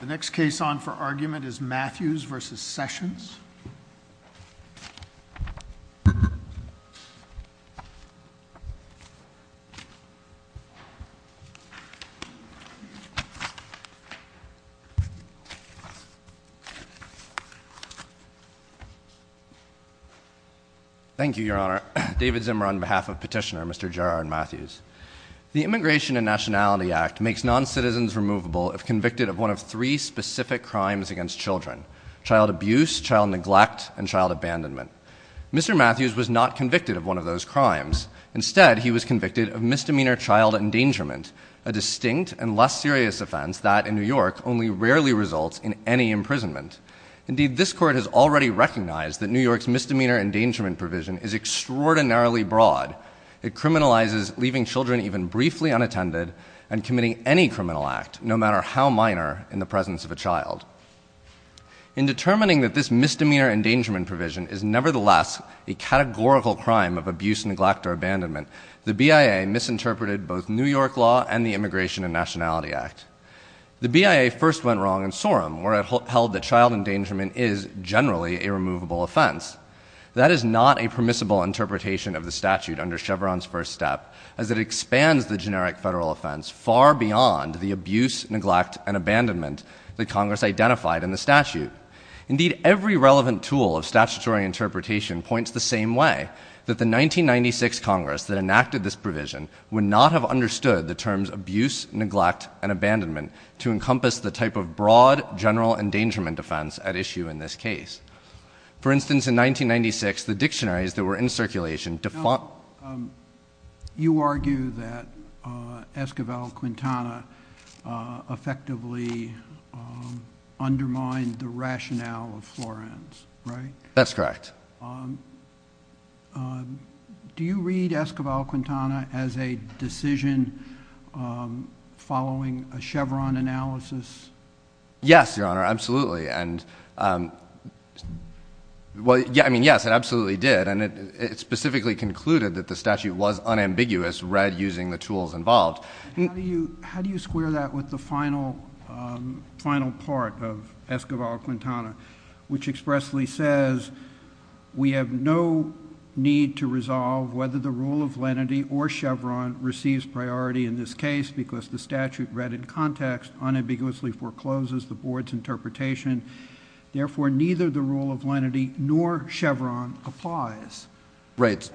The next case on for argument is Matthews v. Sessions. Thank you, Your Honor. David Zimmer on behalf of Petitioner, Mr. Gerard Matthews. The Immigration and Nationality Act makes non-citizens removable if convicted of one of three specific crimes against children. Child abuse, child neglect, and child abandonment. Mr. Matthews was not convicted of one of those crimes. Instead, he was convicted of misdemeanor child endangerment, a distinct and less serious offense that, in New York, only rarely results in any imprisonment. Indeed, this Court has already recognized that New York's misdemeanor endangerment provision is extraordinarily broad. It criminalizes leaving children even briefly unattended and committing any criminal act, no matter how minor, in the presence of a child. In determining that this misdemeanor endangerment provision is nevertheless a categorical crime of abuse, neglect, or abandonment, the BIA misinterpreted both New York law and the Immigration and Nationality Act. The BIA first went wrong in Sorem, where it held that child endangerment is generally a removable offense. That is not a permissible interpretation of the statute under Chevron's first step, as it expands the generic federal offense far beyond the abuse, neglect, and abandonment that Congress identified in the statute. Indeed, every relevant tool of statutory interpretation points the same way, that the 1996 Congress that enacted this provision would not have understood the terms abuse, neglect, and abandonment to encompass the type of broad general endangerment defense at issue in this case. For instance, in 1996, the dictionaries that were in circulation defunct... You argue that Esquivel-Quintana effectively undermined the rationale of Florence, right? That's correct. Do you read Esquivel-Quintana as a decision following a Chevron analysis? Yes, Your Honor, absolutely. I mean, yes, it absolutely did. It specifically concluded that the statute was unambiguous, read using the tools involved. How do you square that with the final part of Esquivel-Quintana, which expressly says we have no need to resolve whether the rule of lenity or Chevron receives priority in this case because the statute read in context unambiguously forecloses the board's interpretation. Therefore, neither the rule of lenity nor Chevron applies. Right.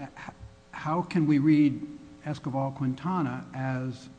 How can we read Esquivel-Quintana as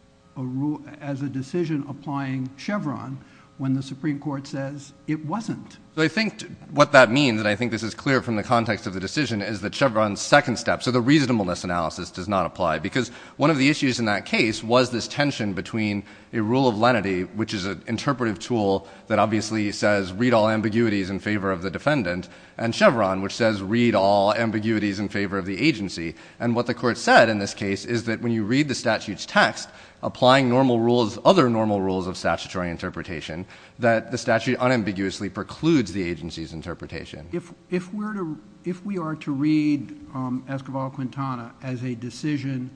a decision applying Chevron when the Supreme Court says it wasn't? I think what that means, and I think this is clear from the context of the decision, is that Chevron's second step, so the reasonableness analysis, does not apply, because one of the issues in that case was this tension between a rule of lenity, which is an interpretive tool that obviously says read all ambiguities in favor of the defendant, and Chevron, which says read all ambiguities in favor of the agency. And what the Court said in this case is that when you read the statute's text, applying other normal rules of statutory interpretation, that the statute unambiguously precludes the agency's interpretation. If we are to read Esquivel-Quintana as a decision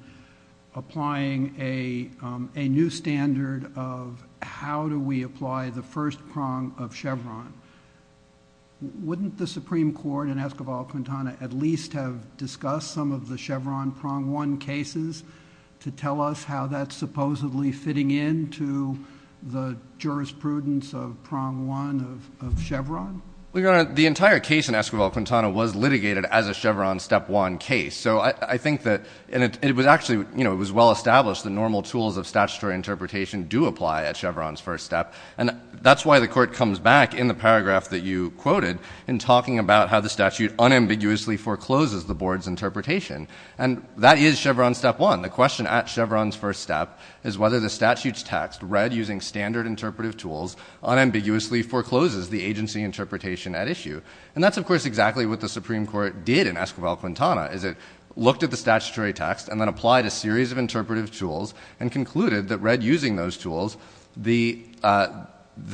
applying a new standard of how do we apply the first prong of Chevron, wouldn't the Supreme Court in Esquivel-Quintana at least have discussed some of the Chevron prong one cases to tell us how that's supposedly fitting in to the jurisprudence of prong one of Chevron? Well, Your Honor, the entire case in Esquivel-Quintana was litigated as a Chevron step one case, so I think that it was actually well established that normal tools of statutory interpretation do apply at Chevron's first step, and that's why the Court comes back in the paragraph that you quoted in talking about how the statute unambiguously forecloses the board's interpretation, and that is Chevron step one. The question at Chevron's first step is whether the statute's text, read using standard interpretive tools, unambiguously forecloses the agency interpretation at issue, and that's, of course, exactly what the Supreme Court did in Esquivel-Quintana, is it looked at the statutory text and then applied a series of interpretive tools and concluded that read using those tools, the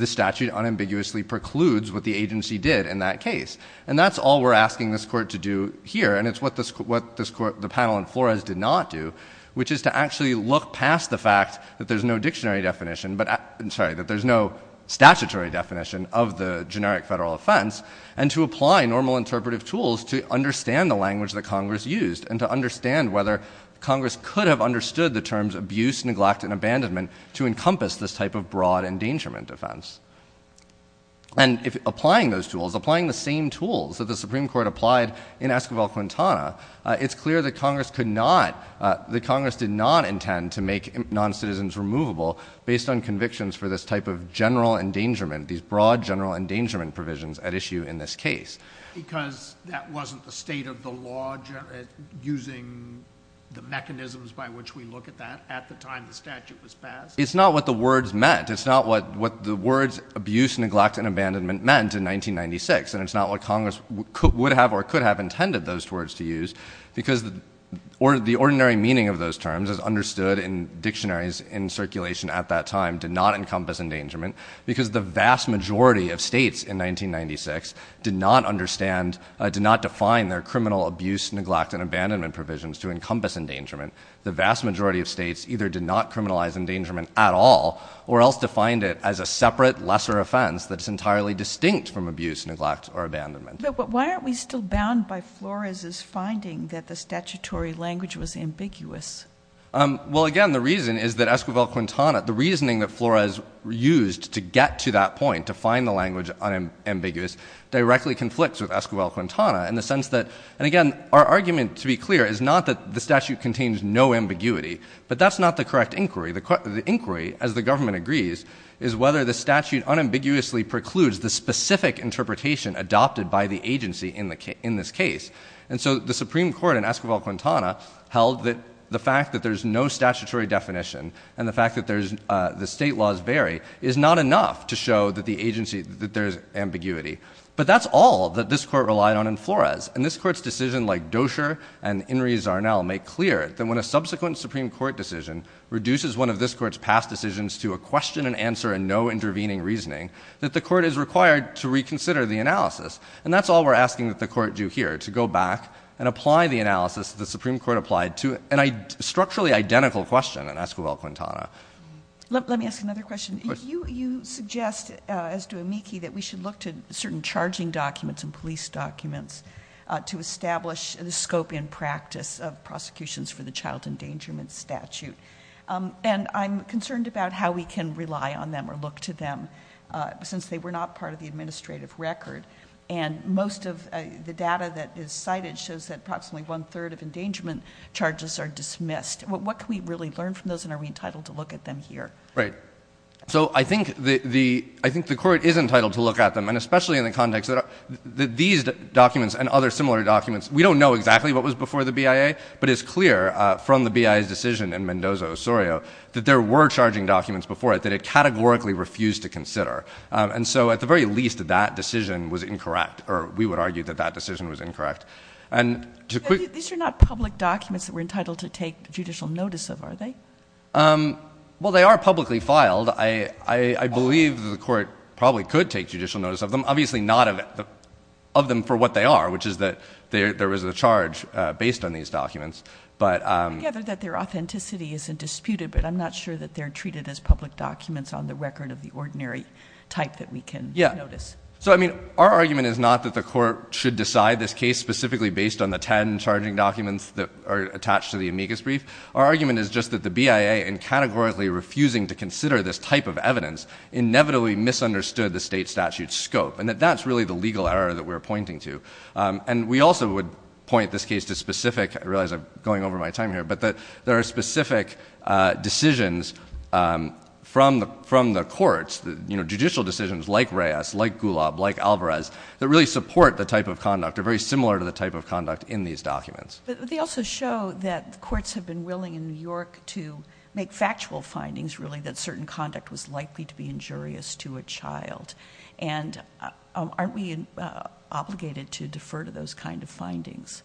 statute unambiguously precludes what the agency did in that case, and that's all we're asking this Court to do here, and it's what the panel in Flores did not do, which is to actually look past the fact that there's no dictionary definition, sorry, that there's no statutory definition of the generic federal offense, and to apply normal interpretive tools to understand the language that Congress used and to understand whether Congress could have understood the terms abuse, neglect, and abandonment to encompass this type of broad endangerment defense. And applying those tools, applying the same tools that the Supreme Court applied in Esquivel-Quintana, it's clear that Congress could not, that Congress did not intend to make noncitizens removable based on convictions for this type of general endangerment, these broad general endangerment provisions at issue in this case. Because that wasn't the state of the law using the mechanisms by which we look at that at the time the statute was passed? It's not what the words meant. It's not what the words abuse, neglect, and abandonment meant in 1996, and it's not what Congress would have or could have intended those words to use because the ordinary meaning of those terms as understood in dictionaries in circulation at that time did not encompass endangerment because the vast majority of states in 1996 did not understand, did not define their criminal abuse, neglect, and abandonment provisions to encompass endangerment. The vast majority of states either did not criminalize endangerment at all or else defined it as a separate lesser offense that is entirely distinct from abuse, neglect, or abandonment. But why aren't we still bound by Flores' finding that the statutory language was ambiguous? Well, again, the reason is that Esquivel-Quintana, the reasoning that Flores used to get to that point, to find the language unambiguous, directly conflicts with Esquivel-Quintana in the sense that, and again, our argument, to be clear, is not that the statute contains no ambiguity, but that's not the correct inquiry. The inquiry, as the government agrees, is whether the statute unambiguously precludes the specific interpretation adopted by the agency in this case. And so the Supreme Court in Esquivel-Quintana held that the fact that there's no statutory definition and the fact that the state laws vary is not enough to show that the agency, that there's ambiguity. But that's all that this court relied on in Flores. And this court's decision, like Doshier and Inri Zarnel, make clear that when a subsequent Supreme Court decision reduces one of this court's past decisions to a question and answer and no intervening reasoning, that the court is required to reconsider the analysis. And that's all we're asking that the court do here, to go back and apply the analysis the Supreme Court applied to a structurally identical question in Esquivel-Quintana. Let me ask another question. You suggest, as do Amiki, that we should look to certain charging documents and police documents to establish the scope and practice of prosecutions for the child endangerment statute. And I'm concerned about how we can rely on them or look to them, since they were not part of the administrative record. And most of the data that is cited shows that approximately one-third of endangerment charges are dismissed. What can we really learn from those, and are we entitled to look at them here? Right. So I think the court is entitled to look at them. And especially in the context that these documents and other similar documents, we don't know exactly what was before the BIA, but it's clear from the BIA's decision in Mendoza-Osorio that there were charging documents before it that it categorically refused to consider. And so at the very least, that decision was incorrect, or we would argue that that decision was incorrect. These are not public documents that we're entitled to take judicial notice of, are they? Well, they are publicly filed. I believe the court probably could take judicial notice of them. Obviously not of them for what they are, which is that there is a charge based on these documents. I gather that their authenticity isn't disputed, but I'm not sure that they're treated as public documents on the record of the ordinary type that we can notice. Yeah. So, I mean, our argument is not that the court should decide this case specifically based on the ten charging documents that are attached to the amicus brief. Our argument is just that the BIA, in categorically refusing to consider this type of evidence, inevitably misunderstood the state statute's scope, and that that's really the legal error that we're pointing to. And we also would point this case to specific – I realize I'm going over my time here – but that there are specific decisions from the courts, you know, judicial decisions like Reyes, like Gulab, like Alvarez, that really support the type of conduct or very similar to the type of conduct in these documents. But they also show that courts have been willing in New York to make factual findings, really, that certain conduct was likely to be injurious to a child. And aren't we obligated to defer to those kind of findings?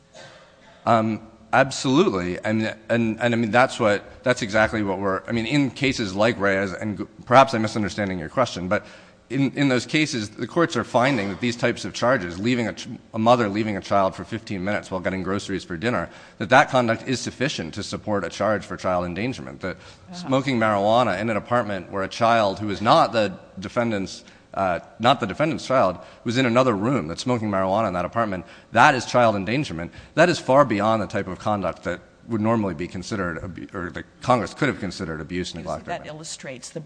Absolutely. And, I mean, that's what – that's exactly what we're – I mean, in cases like Reyes, and perhaps I'm misunderstanding your question, but in those cases, the courts are finding that these types of charges, a mother leaving a child for 15 minutes while getting groceries for dinner, that that conduct is sufficient to support a charge for child endangerment. That smoking marijuana in an apartment where a child who is not the defendant's child was in another room, that smoking marijuana in that apartment, that is child endangerment. That is far beyond the type of conduct that would normally be considered – or that Congress could have considered abuse and neglect. That illustrates the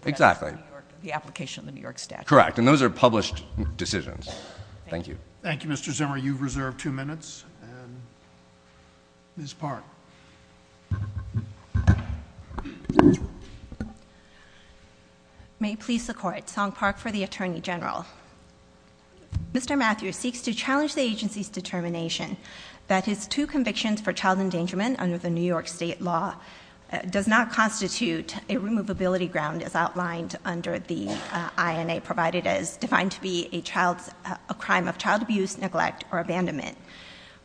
application of the New York statute. Correct. And those are published decisions. Thank you. Thank you, Mr. Zimmer. You've reserved two minutes. And Ms. Park. May it please the Court, Song Park for the Attorney General. Mr. Matthews seeks to challenge the agency's determination that his two convictions for child endangerment under the New York state law does not constitute a removability ground as outlined under the INA, provided as defined to be a child's – a crime of child abuse, neglect, or abandonment.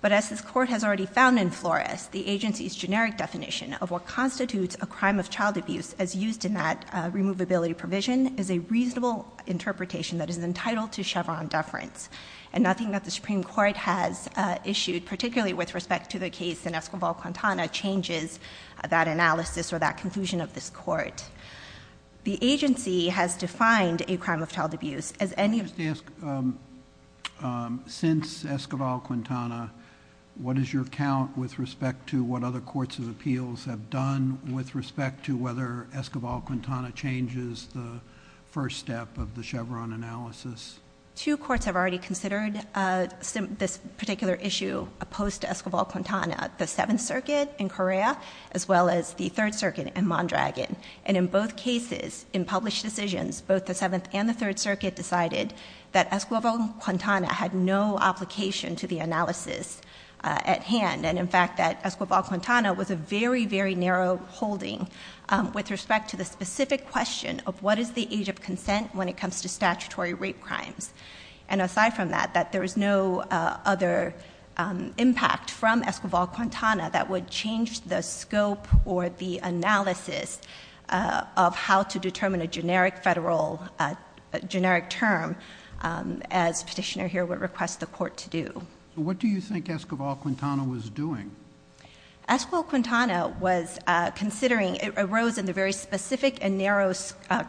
But as this Court has already found in Flores, the agency's generic definition of what constitutes a crime of child abuse as used in that removability provision is a reasonable interpretation that is entitled to Chevron deference. And nothing that the Supreme Court has issued, particularly with respect to the case in Escobar-Quintana, changes that analysis or that conclusion of this Court. The agency has defined a crime of child abuse as any – May I just ask, since Escobar-Quintana, what is your count with respect to what other courts' appeals have done with respect to whether Escobar-Quintana changes the first step of the Chevron analysis? Two courts have already considered this particular issue opposed to Escobar-Quintana, the Seventh Circuit in Correa, as well as the Third Circuit in Mondragon. And in both cases, in published decisions, both the Seventh and the Third Circuit decided that Escobar-Quintana had no application to the analysis at hand, and in fact that Escobar-Quintana was a very, very narrow holding with respect to the specific question of what is the age of consent when it comes to statutory rape crimes. And aside from that, that there is no other impact from Escobar-Quintana that would change the scope or the analysis of how to determine a generic federal – a generic term as Petitioner here would request the Court to do. What do you think Escobar-Quintana was doing? Escobar-Quintana was considering – it arose in the very specific and narrow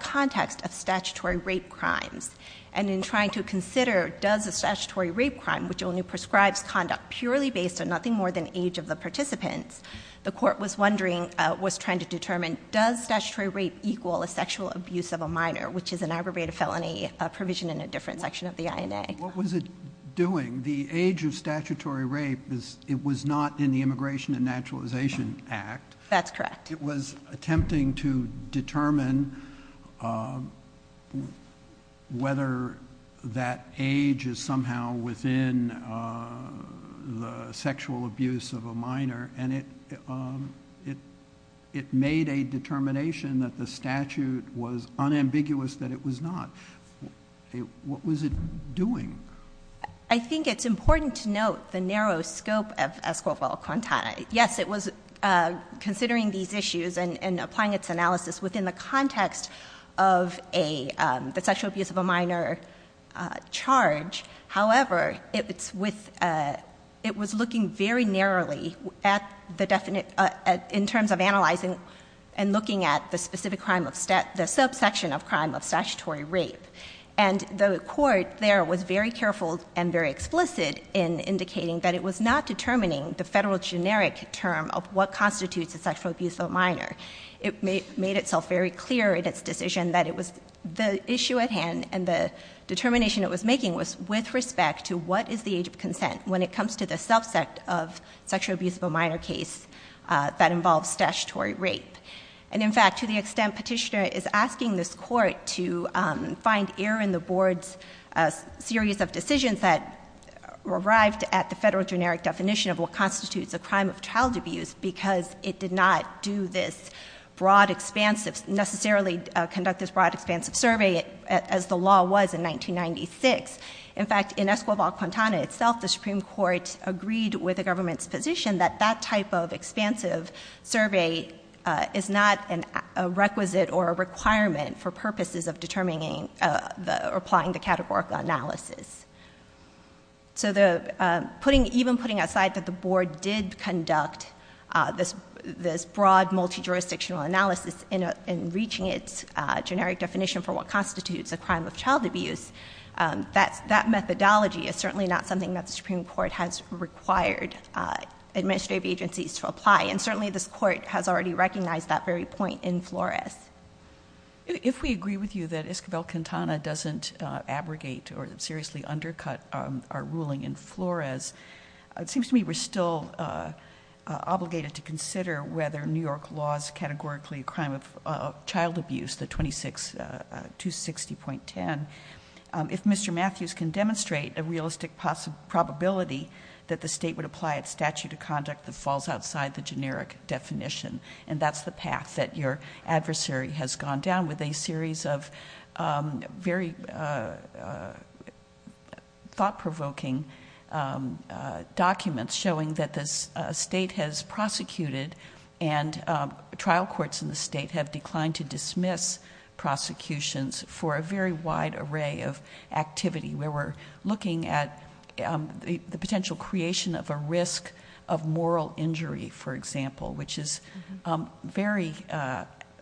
context of statutory rape crimes. And in trying to consider does a statutory rape crime, which only prescribes conduct purely based on nothing more than age of the participants, the Court was wondering – was trying to determine does statutory rape equal a sexual abuse of a minor, which is an aggravated felony provision in a different section of the INA. What was it doing? The age of statutory rape is – it was not in the Immigration and Naturalization Act. That's correct. It was attempting to determine whether that age is somehow within the sexual abuse of a minor, and it made a determination that the statute was unambiguous that it was not. What was it doing? I think it's important to note the narrow scope of Escobar-Quintana. Yes, it was considering these issues and applying its analysis within the context of a – the sexual abuse of a minor charge. However, it's with – it was looking very narrowly at the – in terms of analyzing and looking at the specific crime of – the subsection of crime of statutory rape. And the Court there was very careful and very explicit in indicating that it was not determining the Federal generic term of what constitutes a sexual abuse of a minor. It made itself very clear in its decision that it was – the issue at hand and the determination it was making was with respect to what is the age of consent when it comes to the subset of sexual abuse of a minor case that involves statutory rape. And, in fact, to the extent Petitioner is asking this Court to find error in the Board's series of decisions that arrived at the Federal generic definition of what constitutes a crime of child abuse because it did not do this broad, expansive – necessarily conduct this broad, expansive survey as the law was in 1996. In fact, in Escobar-Quintana itself, the Supreme Court agreed with the government's position that that type of expansive survey is not a requisite or a requirement for purposes of determining the – or applying the categorical analysis. So the – putting – even putting aside that the Board did conduct this broad, multi-jurisdictional analysis in reaching its generic definition for what constitutes a crime of child abuse, that's – that methodology is certainly not something that the Supreme Court has required administrative agencies to apply. And certainly this Court has already recognized that very point in Flores. If we agree with you that Escobar-Quintana doesn't abrogate or seriously undercut our ruling in Flores, it seems to me we're still obligated to consider whether New York law's categorically a crime of child abuse, the 26 – 260.10, if Mr. Matthews can demonstrate a realistic possibility that the State would apply its statute of conduct that falls outside the generic definition. And that's the path that your adversary has gone down with a series of very thought-provoking documents showing that the State has prosecuted and trial courts in the State have declined to dismiss prosecutions for a very wide array of activity where we're looking at the potential creation of a risk of moral injury, for example, which is very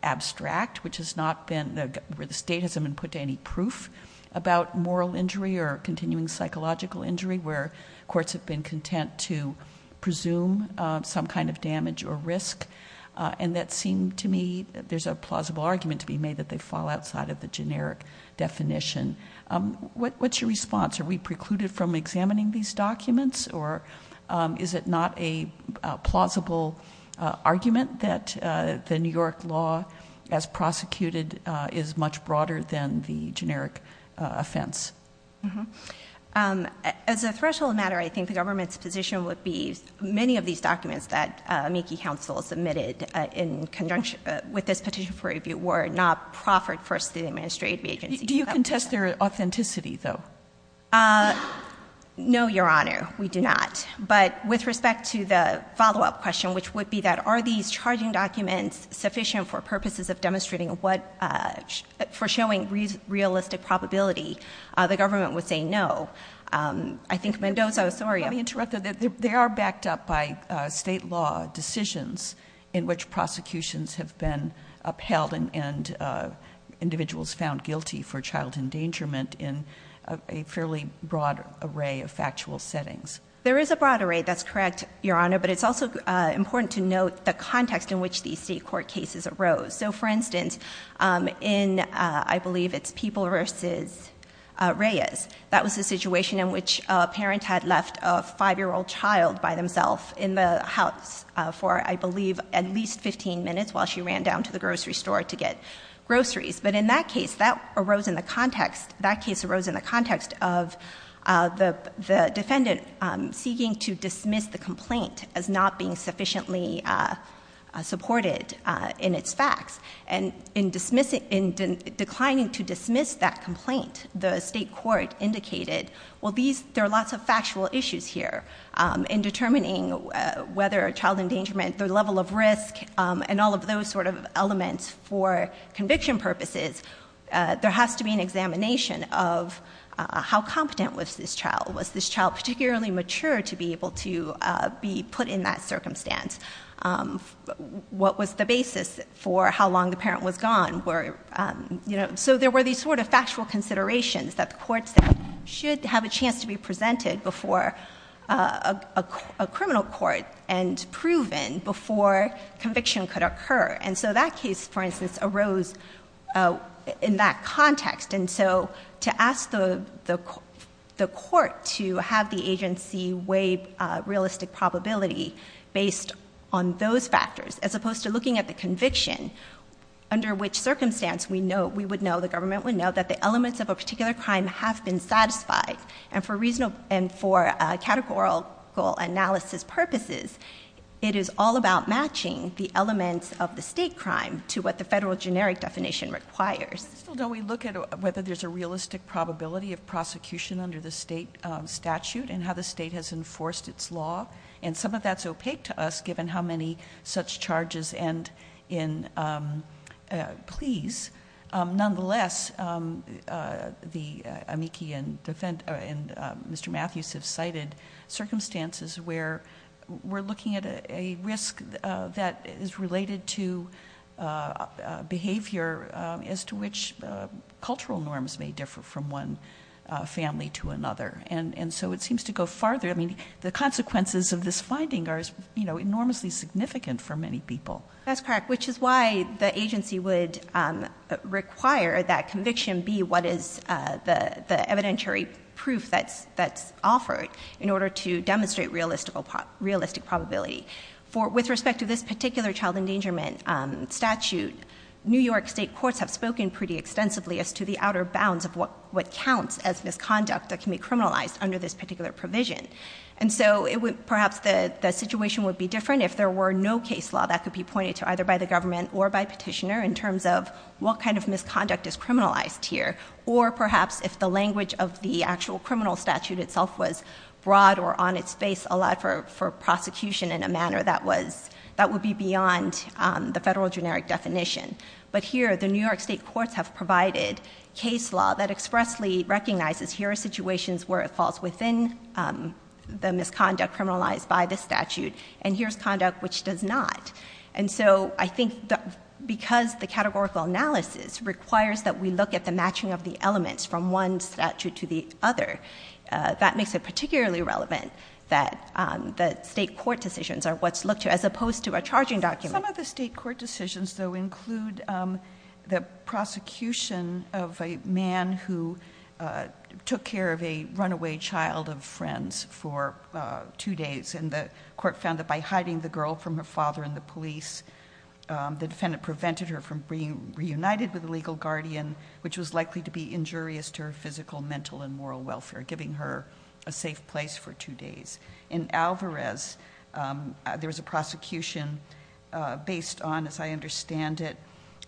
abstract, which has not been – where the State hasn't been put to any proof about moral injury or continuing psychological injury where courts have been content to presume some kind of damage or risk. And that seemed to me there's a plausible argument to be made that they fall outside of the generic definition. What's your response? Are we precluded from examining these documents? Or is it not a plausible argument that the New York law as prosecuted is much broader than the generic offense? Mm-hmm. As a threshold matter, I think the government's position would be many of these documents that Meeky Council submitted in conjunction with this petition for review were not proffered first to the administrative agency. Do you contest their authenticity, though? No, Your Honor, we do not. But with respect to the follow-up question, which would be that are these charging documents sufficient for purposes of demonstrating what – for showing realistic probability, the government would say no. I think Mendoza – sorry. Let me interrupt. They are backed up by State law decisions in which prosecutions have been upheld and individuals found guilty for child endangerment in a fairly broad array of factual settings. There is a broad array. That's correct, Your Honor. But it's also important to note the context in which these state court cases arose. So, for instance, in I believe it's People v. Reyes, that was a situation in which a parent had left a 5-year-old child by themself in the house for, I believe, at least 15 minutes while she ran down to the grocery store to get groceries. But in that case, that arose in the context – that case arose in the context of the defendant seeking to dismiss the complaint as not being sufficiently supported in its facts. And in dismissing – in declining to dismiss that complaint, the state court indicated, well, these – in determining whether a child endangerment, their level of risk, and all of those sort of elements for conviction purposes, there has to be an examination of how competent was this child. Was this child particularly mature to be able to be put in that circumstance? What was the basis for how long the parent was gone? So there were these sort of factual considerations that the courts should have a chance to be presented before a criminal court and proven before conviction could occur. And so that case, for instance, arose in that context. And so to ask the court to have the agency weigh realistic probability based on those factors as opposed to looking at the conviction, under which circumstance we know – we would know, the government would know, that the elements of a particular crime have been satisfied. And for reasonable – and for categorical analysis purposes, it is all about matching the elements of the state crime to what the federal generic definition requires. But still, don't we look at whether there's a realistic probability of prosecution under the state statute and how the state has enforced its law? And some of that's opaque to us, given how many such charges end in pleas. Nonetheless, the amici and Mr. Matthews have cited circumstances where we're looking at a risk that is related to behavior as to which cultural norms may differ from one family to another. And so it seems to go farther. I mean, the consequences of this finding are enormously significant for many people. That's correct, which is why the agency would require that conviction be what is the evidentiary proof that's offered in order to demonstrate realistic probability. With respect to this particular child endangerment statute, New York state courts have spoken pretty extensively as to the outer bounds of what counts as misconduct that can be criminalized under this particular provision. And so perhaps the situation would be different if there were no case law that could be pointed to either by the government or by petitioner in terms of what kind of misconduct is criminalized here, or perhaps if the language of the actual criminal statute itself was broad or on its face a lot for prosecution in a manner that would be beyond the federal generic definition. But here, the New York state courts have provided case law that expressly recognizes here are situations where it falls within the misconduct criminalized by this statute, and here's conduct which does not. And so I think because the categorical analysis requires that we look at the matching of the elements from one statute to the other, that makes it particularly relevant that the state court decisions are what's looked to, as opposed to a charging document. Some of the state court decisions, though, include the prosecution of a man who took care of a runaway child of friends for two days, and the court found that by hiding the girl from her father and the police, the defendant prevented her from being reunited with a legal guardian, which was likely to be injurious to her physical, mental, and moral welfare, giving her a safe place for two days. In Alvarez, there was a prosecution based on, as I understand it,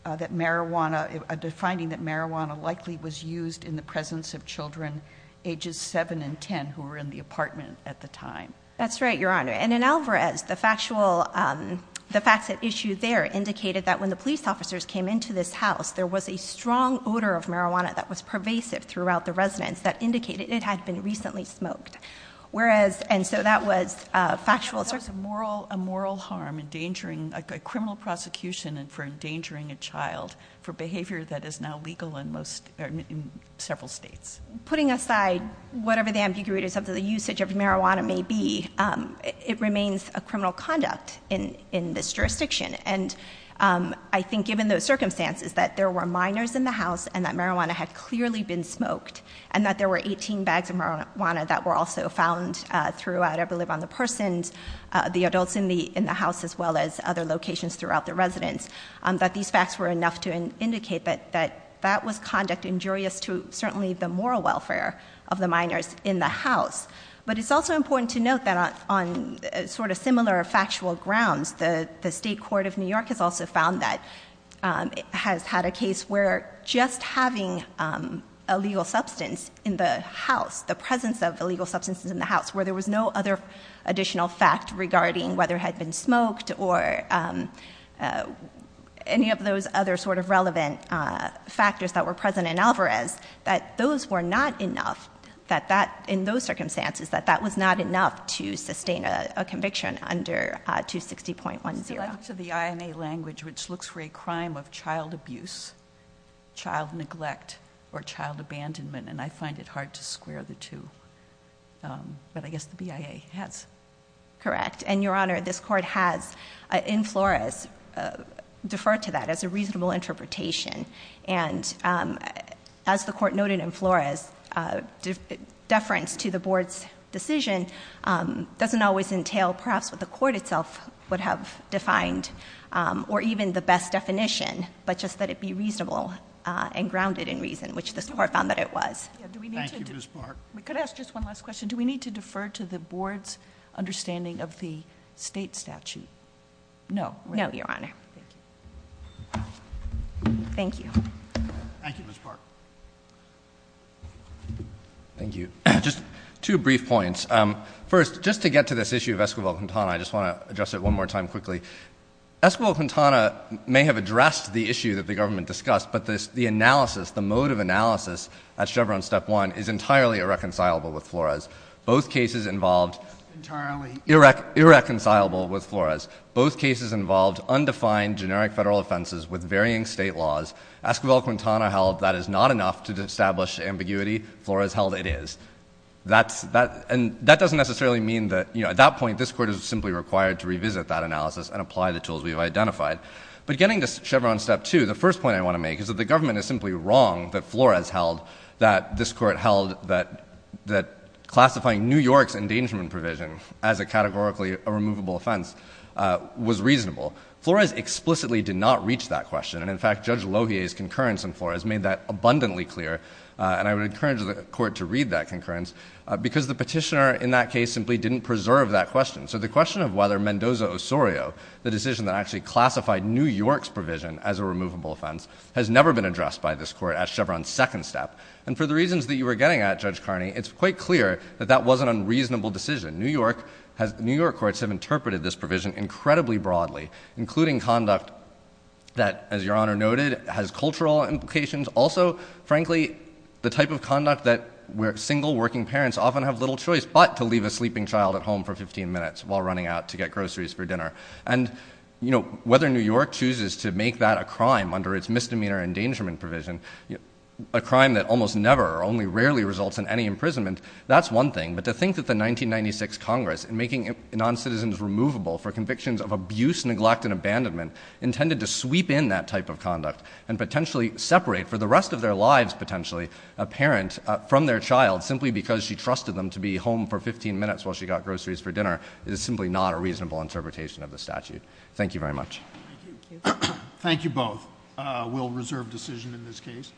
that marijuana, a finding that marijuana likely was used in the presence of children ages 7 and 10 who were in the apartment at the time. That's right, Your Honor. And in Alvarez, the factual, the facts at issue there indicated that when the police officers came into this house, there was a strong odor of marijuana that was pervasive throughout the residence that indicated it had been recently smoked. And so that was a factual assertion. That was a moral harm, a criminal prosecution for endangering a child for behavior that is now legal in several states. Putting aside whatever the ambiguities of the usage of marijuana may be, it remains a criminal conduct in this jurisdiction. And I think given those circumstances, that there were minors in the house and that marijuana had clearly been smoked, and that there were 18 bags of marijuana that were also found throughout Every Live on the Persons, the adults in the house as well as other locations throughout the residence. That these facts were enough to indicate that that was conduct injurious to certainly the moral welfare of the minors in the house. But it's also important to note that on sort of similar factual grounds, the State Court of New York has also found that it has had a case where just having a legal substance in the house, the presence of a legal substance in the house, where there was no other additional fact regarding whether it had been smoked or any of those other sort of relevant factors that were present in Alvarez. That those were not enough, in those circumstances, that that was not enough to sustain a conviction under 260.10. To the INA language, which looks for a crime of child abuse, child neglect, or child abandonment, and I find it hard to square the two. But I guess the BIA has. Correct. And Your Honor, this court has, in Flores, deferred to that as a reasonable interpretation. And as the court noted in Flores, deference to the board's decision doesn't always entail perhaps what the court itself would have defined, or even the best definition. But just that it be reasonable and grounded in reason, which this court found that it was. Thank you, Ms. Park. We could ask just one last question. Do we need to defer to the board's understanding of the state statute? No. No, Your Honor. Thank you. Thank you, Ms. Park. Thank you. Just two brief points. First, just to get to this issue of Esquivel-Quintana, I just want to address it one more time quickly. Esquivel-Quintana may have addressed the issue that the government discussed, but the analysis, the mode of analysis at Chevron Step 1 is entirely irreconcilable with Flores. Both cases involved irreconcilable with Flores. Both cases involved undefined generic federal offenses with varying state laws. Esquivel-Quintana held that is not enough to establish ambiguity. Flores held it is. And that doesn't necessarily mean that at that point this court is simply required to revisit that analysis and apply the tools we've identified. But getting to Chevron Step 2, the first point I want to make is that the government is simply wrong that Flores held that this court held that classifying New York's endangerment provision as a categorically removable offense was reasonable. Flores explicitly did not reach that question. And, in fact, Judge Lohier's concurrence in Flores made that abundantly clear. And I would encourage the court to read that concurrence because the petitioner in that case simply didn't preserve that question. So the question of whether Mendoza-Osorio, the decision that actually classified New York's provision as a removable offense, has never been addressed by this court at Chevron Second Step. And for the reasons that you were getting at, Judge Carney, it's quite clear that that was an unreasonable decision. New York courts have interpreted this provision incredibly broadly, including conduct that, as Your Honor noted, has cultural implications. Also, frankly, the type of conduct that single working parents often have little choice but to leave a sleeping child at home for 15 minutes while running out to get groceries for dinner. And, you know, whether New York chooses to make that a crime under its misdemeanor endangerment provision, a crime that almost never or only rarely results in any imprisonment, that's one thing. But to think that the 1996 Congress, in making noncitizens removable for convictions of abuse, neglect, and abandonment, intended to sweep in that type of conduct and potentially separate for the rest of their lives, potentially, a parent from their child simply because she trusted them to be home for 15 minutes while she got groceries for dinner is simply not a reasonable interpretation of the statute. Thank you very much. Thank you both. We'll reserve decision in this case. Thank you.